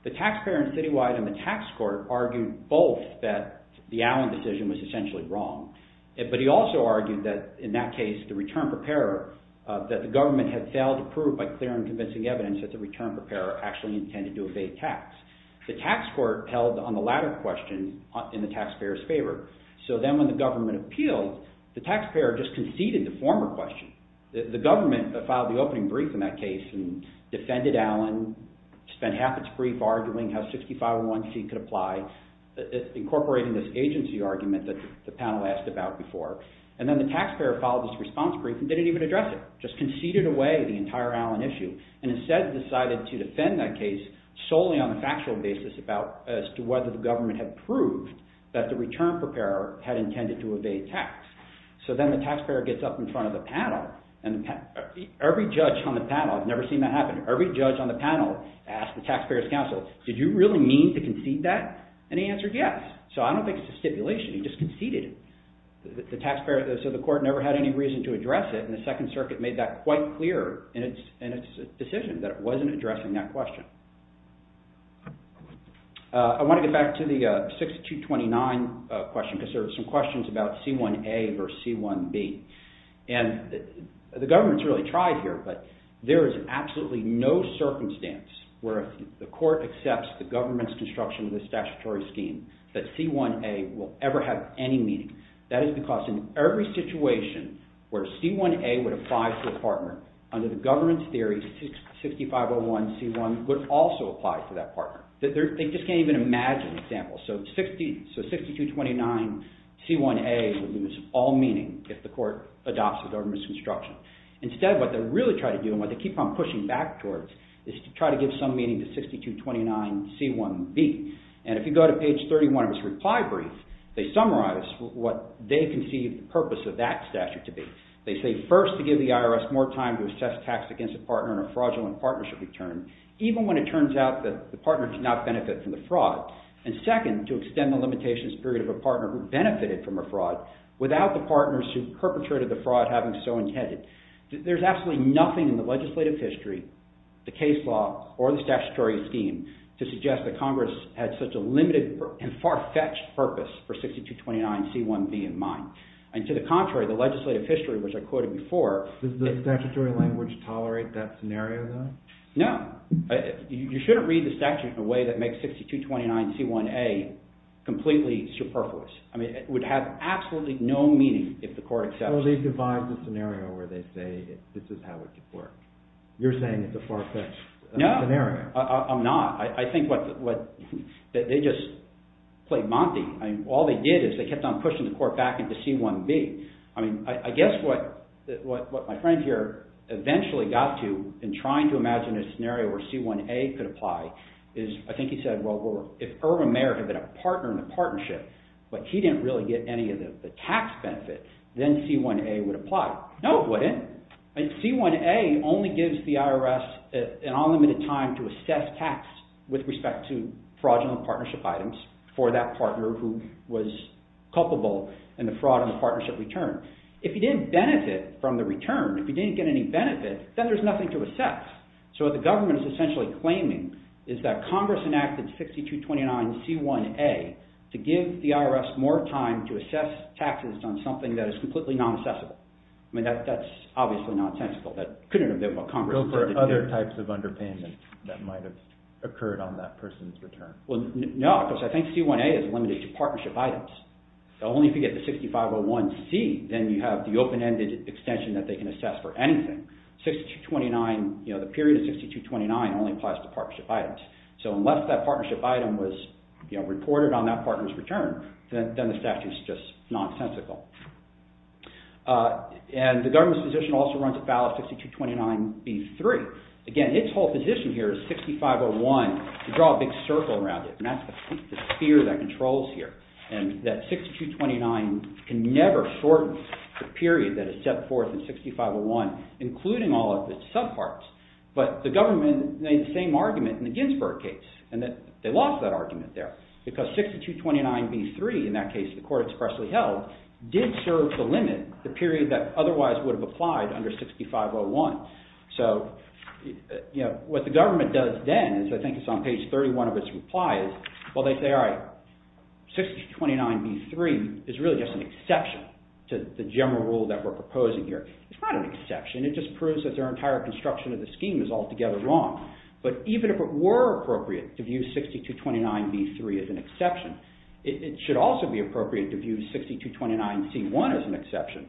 The taxpayer in Citywide and the tax court argued both that the Allen decision was essentially wrong. But he also argued that in that case, the return preparer, that the government had failed to prove by clear and convincing evidence that the return preparer actually intended to evade tax. The tax court held on the latter question in the taxpayer's favor. So then when the government appealed, the taxpayer just conceded the former question. The government filed the opening brief in that case and defended Allen, spent half its brief arguing how 6501c could apply, incorporating this agency argument that the panel asked about before. And then the taxpayer filed this response brief and didn't even address it, just conceded away the entire Allen issue, and instead decided to defend that case solely on a factual basis as to whether the government had proved that the return preparer had intended to evade tax. So then the taxpayer gets up in front of the panel, and every judge on the panel, I've never seen that happen, every judge on the panel asked the taxpayer's counsel, did you really mean to concede that? And he answered yes. So I don't think it's a stipulation, he just conceded it. So the court never had any reason to address it, and the Second Circuit made that quite clear in its decision that it wasn't addressing that question. I want to get back to the 6229 question, because there are some questions about C1A versus C1B. And the government's really tried here, but there is absolutely no circumstance where the court accepts the government's construction of the statutory scheme that C1A will ever have any meaning. That is because in every situation where C1A would apply to a partner, under the government's theory, 6501 C1 would also apply to that partner. They just can't even imagine an example. So 6229 C1A would lose all meaning if the court adopts the government's construction. Instead, what they really try to do, and what they keep on pushing back towards, is to try to give some meaning to 6229 C1B. And if you go to page 31 of its reply brief, they summarize what they conceive the purpose of that statute to be. They say, first, to give the IRS more time to assess tax against a partner in a fraudulent partnership return, even when it turns out that the partner did not benefit from the fraud. And second, to extend the limitations period of a partner who benefited from a fraud without the partners who perpetrated the fraud having so intended. There's absolutely nothing in the legislative history, the case law, or the statutory scheme to suggest that Congress had such a limited and far-fetched purpose for 6229 C1B in mind. And to the contrary, the legislative history, which I quoted before... Does the statutory language tolerate that scenario, though? No. You shouldn't read the statute in a way that makes 6229 C1A completely superfluous. It would have absolutely no meaning if the court accepted it. Well, they've devised a scenario where they say this is how it could work. You're saying it's a far-fetched scenario. No, I'm not. I think what they just played Monty. All they did is they kept on pushing the court back into C1B. I guess what my friend here eventually got to in trying to imagine a scenario where C1A could apply is... I think he said, well, if Irvin Mayer had been a partner in the partnership, but he didn't really get any of the tax benefit, then C1A would apply. No, it wouldn't. C1A only gives the IRS an unlimited time to assess tax with respect to fraudulent partnership items for that partner who was culpable in the fraud in the partnership return. If he didn't benefit from the return, if he didn't get any benefit, then there's nothing to assess. So the government is essentially claiming that Congress enacted 6229 C1A to give the IRS more time to assess taxes on something that is completely non-assessable. I mean, that's obviously nonsensical. That couldn't have been what Congress... Go for other types of underpayments that might have occurred on that person's return. No, because I think C1A is limited to partnership items. Only if you get the 6501C, then you have the open-ended extension that they can assess for anything. 6229, the period of 6229 only applies to partnership items. So unless that partnership item was reported on that partner's return, then the statute is just nonsensical. And the government's position also runs afoul of 6229B3. Again, its whole position here is 6501 to draw a big circle around it, and that's the sphere that controls here. And that 6229 can never shorten the period that is set forth in 6501 including all of its subparts. But the government made the same argument in the Ginsberg case, and they lost that argument there because 6229B3, in that case, the court expressly held, did serve the limit, the period that otherwise would have applied under 6501. So what the government does then is, I think it's on page 31 of its reply, is, well, they say, all right, 6229B3 is really just an exception to the general rule that we're proposing here. It's not an exception. It just proves that their entire construction of the scheme is altogether wrong. But even if it were appropriate to view 6229B3 as an exception, it should also be appropriate to view 6229C1 as an exception.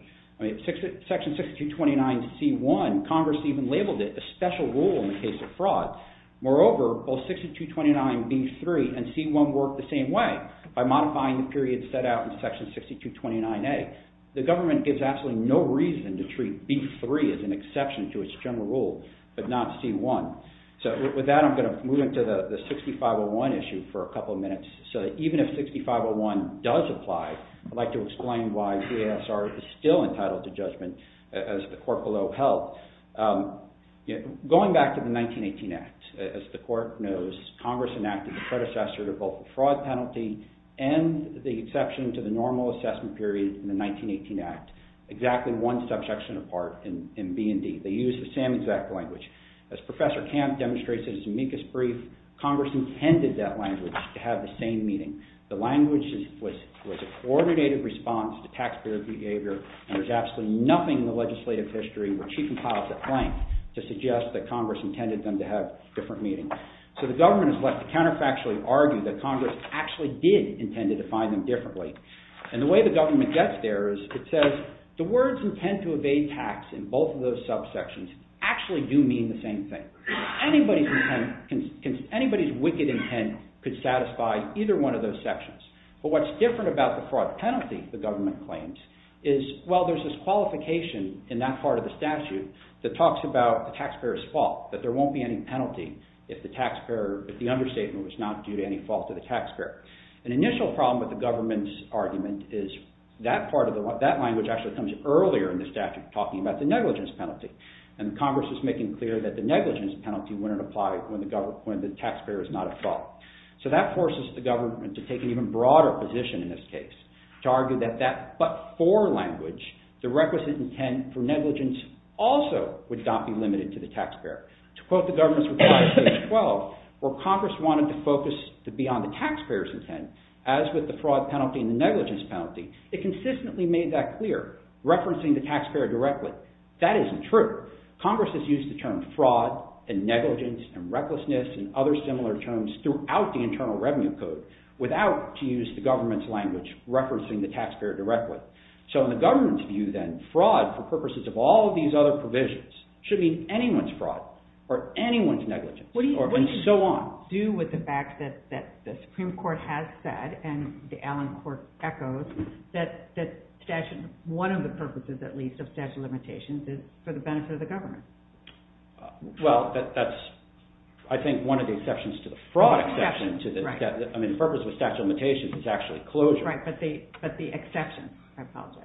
Section 6229C1, Congress even labeled it a special rule in the case of fraud. Moreover, both 6229B3 and C1 work the same way by modifying the period set out in section 6229A. The government gives absolutely no reason to treat B3 as an exception to its general rule, but not C1. So with that, I'm going to move into the 6501 issue for a couple of minutes. So even if 6501 does apply, I'd like to explain why CASR is still entitled to judgment as the court below held. Going back to the 1918 Act, as the court knows, Congress enacted the predecessor to both the fraud penalty and the exception to the normal assessment period in the 1918 Act exactly one subsection apart in B and D. They use the same exact language. As Professor Camp demonstrates in his amicus brief, Congress intended that language to have the same meaning. The language was a coordinated response to taxpayer behavior, and there's absolutely nothing in the legislative history where she compiles it blank to suggest that Congress intended them to have different meanings. So the government has left to counterfactually argue that Congress actually did intend to define them differently. And the way the government gets there is it says the words intend to evade tax in both of those subsections actually do mean the same thing. Anybody's wicked intent could satisfy either one of those sections. But what's different about the fraud penalty the government claims is, well, there's this qualification in that part of the statute that talks about the taxpayer's fault, that there won't be any penalty if the understatement was not due to any fault to the taxpayer. An initial problem with the government's argument is that part of the, that language actually comes earlier in the statute talking about the negligence penalty. And Congress is making clear that the negligence penalty wouldn't apply when the taxpayer is not at fault. So that forces the government to take an even broader position in this case to argue that that but for language, the requisite intent for negligence also would not be limited to the taxpayer. To quote the government's reply to page 12, where Congress wanted to focus beyond the taxpayer's intent as with the fraud penalty and the negligence penalty, it consistently made that clear, referencing the taxpayer directly. That isn't true. Congress has used the term fraud and negligence and recklessness and other similar terms throughout the Internal Revenue Code without to use the government's language referencing the taxpayer directly. So in the government's view then, fraud for purposes of all these other provisions should mean anyone's fraud or anyone's negligence or so on. What do you do with the fact that the Supreme Court has said and the Allen Court echoes that one of the purposes at least of statute of limitations is for the benefit of the government? Well, that's, I think, one of the exceptions to the fraud exception. I mean, the purpose of the statute of limitations is actually closure. Right, but the exception. I apologize.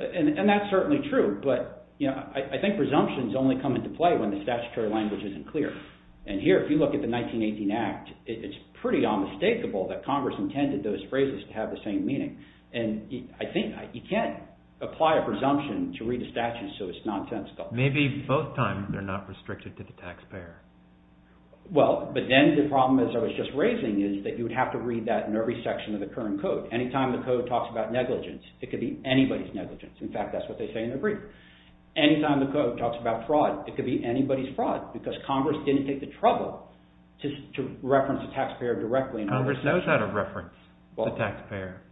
And that's certainly true, but I think presumptions only come into play when the statutory language isn't clear. And here, if you look at the 1918 Act, it's pretty unmistakable that Congress intended those phrases to have the same meaning. And I think you can't apply a presumption to read a statute so it's nonsensical. Maybe both times they're not restricted to the taxpayer. Well, but then the problem as I was just raising is that you would have to read that in every section of the current code. Anytime the code talks about negligence, it could be anybody's negligence. In fact, that's what they say in the brief. Anytime the code talks about fraud, it could be anybody's fraud because Congress didn't take the trouble to reference the taxpayer directly. Congress knows how to reference the taxpayer.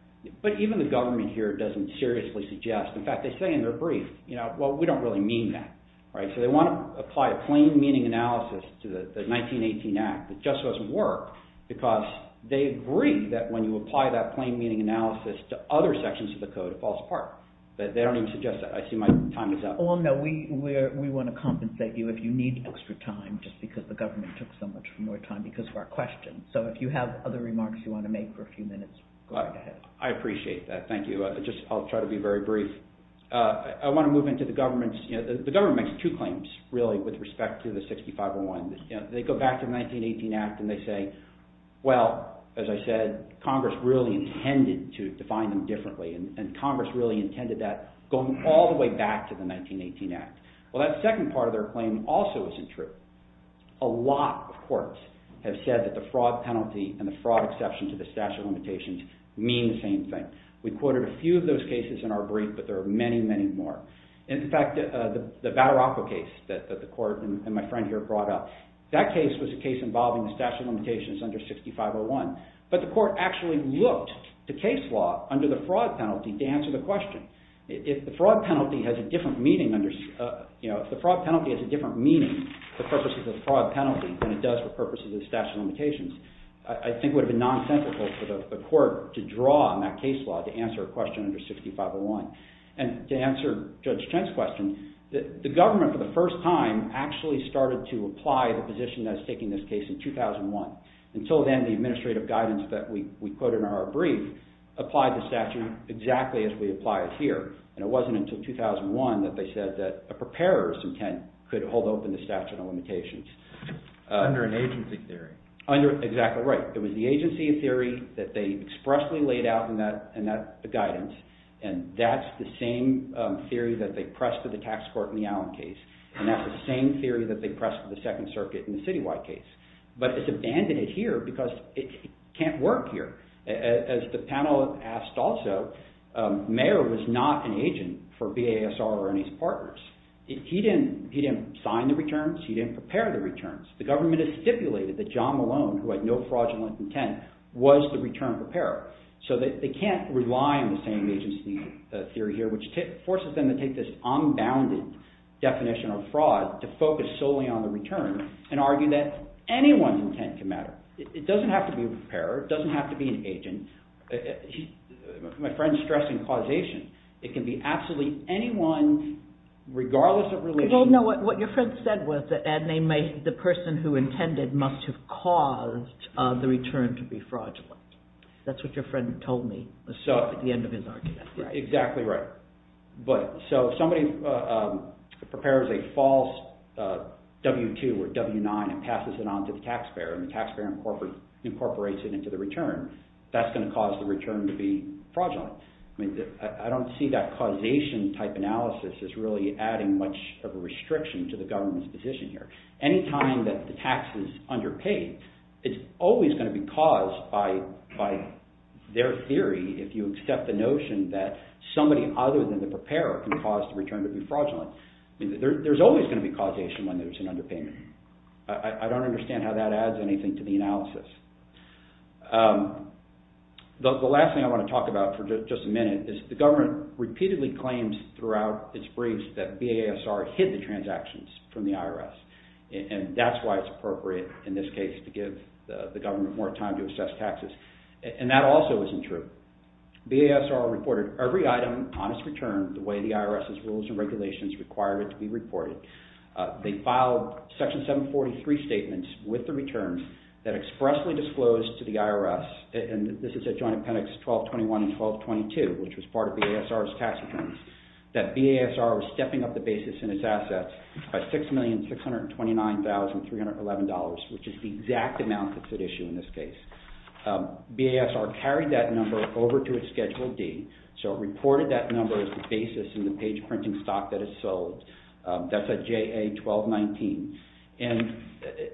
But even the government here doesn't seriously suggest. In fact, they say in their brief, you know, well, we don't really mean that. Right? So they want to apply a plain meaning analysis to the 1918 Act that just doesn't work because they agree that when you apply that plain meaning analysis to other sections of the code, it falls apart. But they don't even suggest that. I see my time is up. Well, no. We want to compensate you if you need extra time just because the government took so much more time because of our questions. So if you have other remarks you want to make for a few minutes, go ahead. I appreciate that. Thank you. I'll try to be very brief. I want to move into the government's, you know, the government makes two claims really with respect to the 6501. They go back to the 1918 Act and they say, well, as I said, Congress really intended to define them differently and Congress really intended that going all the way back Well, that second part of their claim also isn't true. A lot of courts have said that the fraud penalty and the fraud exception to the statute of limitations mean the same thing. We quoted a few of those cases in our brief but there are many, many more. In fact, the Battaraco case that the court and my friend here brought up, that case was a case involving the statute of limitations under 6501 but the court actually looked to case law under the fraud penalty to answer the question. If the fraud penalty has a different meaning under, you know, if the fraud penalty has a different meaning for purposes of fraud penalty than it does for purposes of the statute of limitations, I think it would have been non-sensical for the court to draw on that case law to answer a question under 6501 and to answer Judge Chen's question, the government for the first time actually started to apply the position that was taking this case in 2001. Until then, the administrative guidance that we quoted in our brief applied the statute exactly as we apply it here and it wasn't until 2001 that they said that a preparer's intent could hold open the statute of limitations. Under an agency of theory. Under, exactly right. It was the agency of theory that they expressly laid out in that guidance and that's the same theory that they pressed to the tax court in the Allen case and that's the same theory that they pressed to the Second Circuit in the Citywide case but it's abandoned here because it can't work here. As the panel asked also, Mayer was not an agent he didn't prepare the returns. The government has stipulated that he was not an agent for BASR or any of his partners. He didn't sign the returns, but it was stated that John Malone who had no fraudulent intent was the return preparer so they can't rely on the same agency theory here which forces them to take this unbounded definition of fraud to focus solely on the return and argue that anyone's intent can matter. It doesn't have to be a preparer. It doesn't have to be an agent. regardless of religion. Well no, what your friend said was that the person who intended must have prepared the returns and that's not true. It can be anyone regardless of religion. It can be anyone who has caused the return to be fraudulent. That's what your friend told me at the end of his argument. Exactly right. So if somebody prepares a false W-2 or W-9 and passes it on to the taxpayer and the taxpayer incorporates it into the return that's going to cause the return to be fraudulent. I don't see that causation type analysis as really adding much of a restriction to the government's position here. Any time that the tax is underpaid it's always going to be caused by their theory if you accept the notion that somebody other than the preparer can cause the return to be fraudulent. There's always going to be causation when there's an underpayment. I don't understand how that adds anything to the analysis. The last thing I want to talk about for just a minute is the government repeatedly claims throughout its briefs that BASR hid the transactions from the IRS and that's why it's appropriate in this case to give the government more time to assess taxes and that also isn't true. BASR reported every item on its return the way the IRS's rules and regulations required it to be reported. They filed Section 743 statements with the returns that expressly disclosed to the IRS and this is at Joint Appendix 1221 and 1222 which was part of BASR's tax returns that BASR was stepping up the basis in its assets by $6,629,311 which is the exact amount that's at issue in this case. BASR carried that number over to its Schedule D so it reported that number as the basis in the page printing stock that it sold. That's at JA 1219 and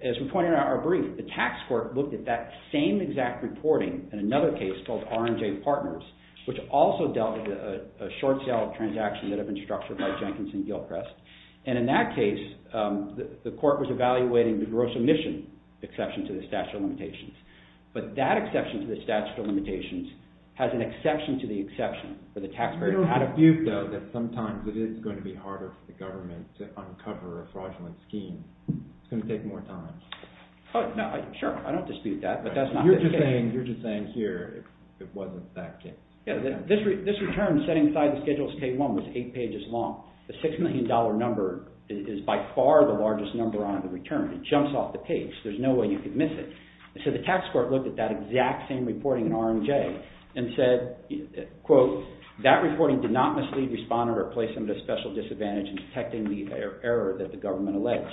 as we pointed out in our brief the tax court looked at that same exact reporting in another case called R&J Partners which also dealt with a short sale of transactions that had been structured by Jenkins and Gilchrist and in that case the court was evaluating the gross emission exception to the statute of limitations but that exception to the statute of limitations has an exception to the exception for the taxpayer You don't dispute though that sometimes it is going to be harder for the government to uncover a fraudulent scheme. It's going to take more time. Sure, I don't dispute that but that's not the case. You're just saying here it wasn't that case. This return setting aside the Schedule K-1 was eight pages long. The six million dollar number is by far the largest number on the return. It jumps off the page. There's no way you could miss it. So the tax court looked at that exact same reporting in R&J and said quote that reporting did not mislead, respond, or place them at a special disadvantage in detecting the error that the government alleged.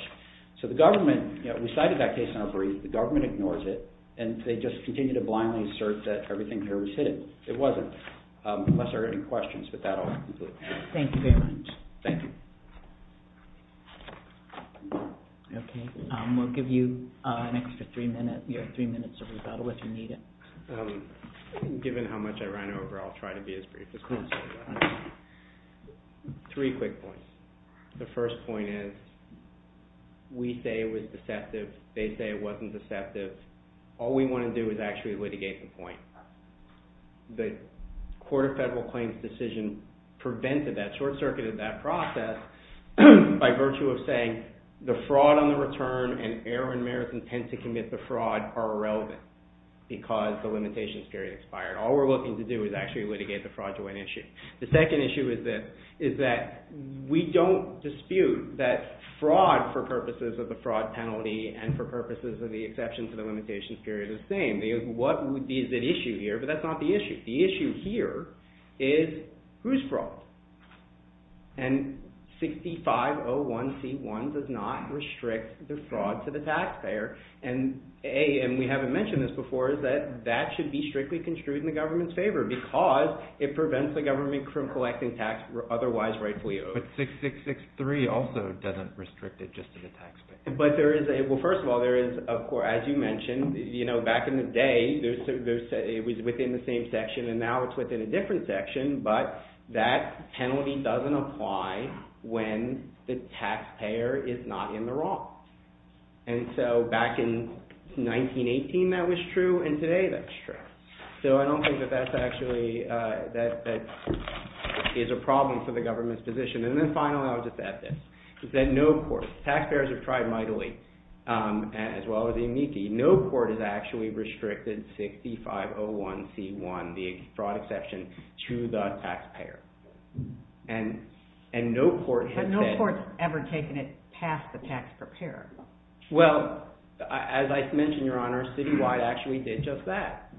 So the government we cited that case in our brief the government ignores it and they just continue to blindly assert that everything here was hidden. It wasn't unless there are any questions with that I'll conclude. Thank you very much. Thank you. Okay, we'll give you an extra three minutes of rebuttal if you need it. Given how much I ran over I'll try to be as brief as possible. Three quick points. The first point is we say it was deceptive. They say it wasn't deceptive. All we want to do is actually litigate the point. The Court of Federal Claims decision prevented that short-circuited that process by virtue of saying the fraud on the return and error in merit and intent to commit the fraud are irrelevant because the limitation period expired. All we're looking to do is actually litigate the fraudulent issue. The second issue is this is that we don't dispute that fraud for purposes of the fraud penalty and for purposes of the exception to the limitation period is the same. What would be the issue here? But that's not the issue. The issue here is who's fraud? And 6501C1 does not restrict the fraud to the taxpayer. And we haven't mentioned this before is that that should be strictly construed in the government's favor because it prevents the government from collecting tax otherwise rightfully owed. But 6663 also doesn't restrict it just to the taxpayer. But there is a well first of all there is of course as you mentioned you know back in the day there's it was within the same section and now it's within a different section but that penalty doesn't apply when the taxpayer is not in the wrong. And so back in 1918 that was true and today that's true. So I don't think that that's actually that that is a problem for the government's position. And then finally I'll just add this is that no of course taxpayers have tried mightily as well as it's actually meekly no court has actually restricted 6501c1 the fraud exception to the taxpayer. And and no court has said But no court's ever taken it past the tax preparer. Well as I mentioned your honor Citywide actually did just that.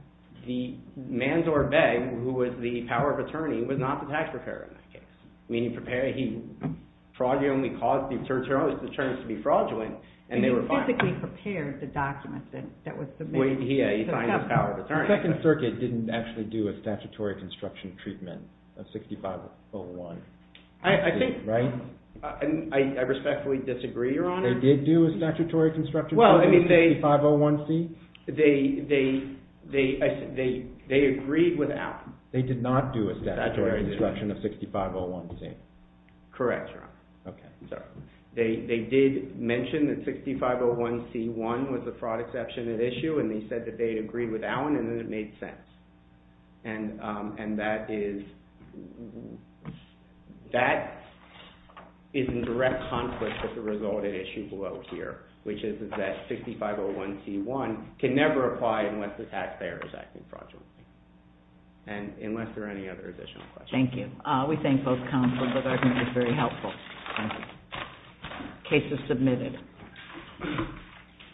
The Manzor Beg who was the power of attorney was not the tax preparer in that case. Meaning he fraudulently caused the attorneys to be fraudulent and they were fined. He basically prepared the document that was submitted. The second circuit didn't actually do a statutory construction treatment of 6501c1. I think I respectfully disagree your honor. They did do a statutory construction treatment of 6501c1? They they they they agreed without. They did not do a statutory construction of 6501c1? Correct your honor. Okay. They they did mention that 6501c1 was a fraud exception at issue and they said they agreed without and it made sense. And and that is that is in direct conflict with the result at issue below here. Which is that 6501c1 can never apply unless the tax payer is acting fraudulently. And unless there are any other additional questions. Thank you. We thank both counsels for this very helpful case submitted.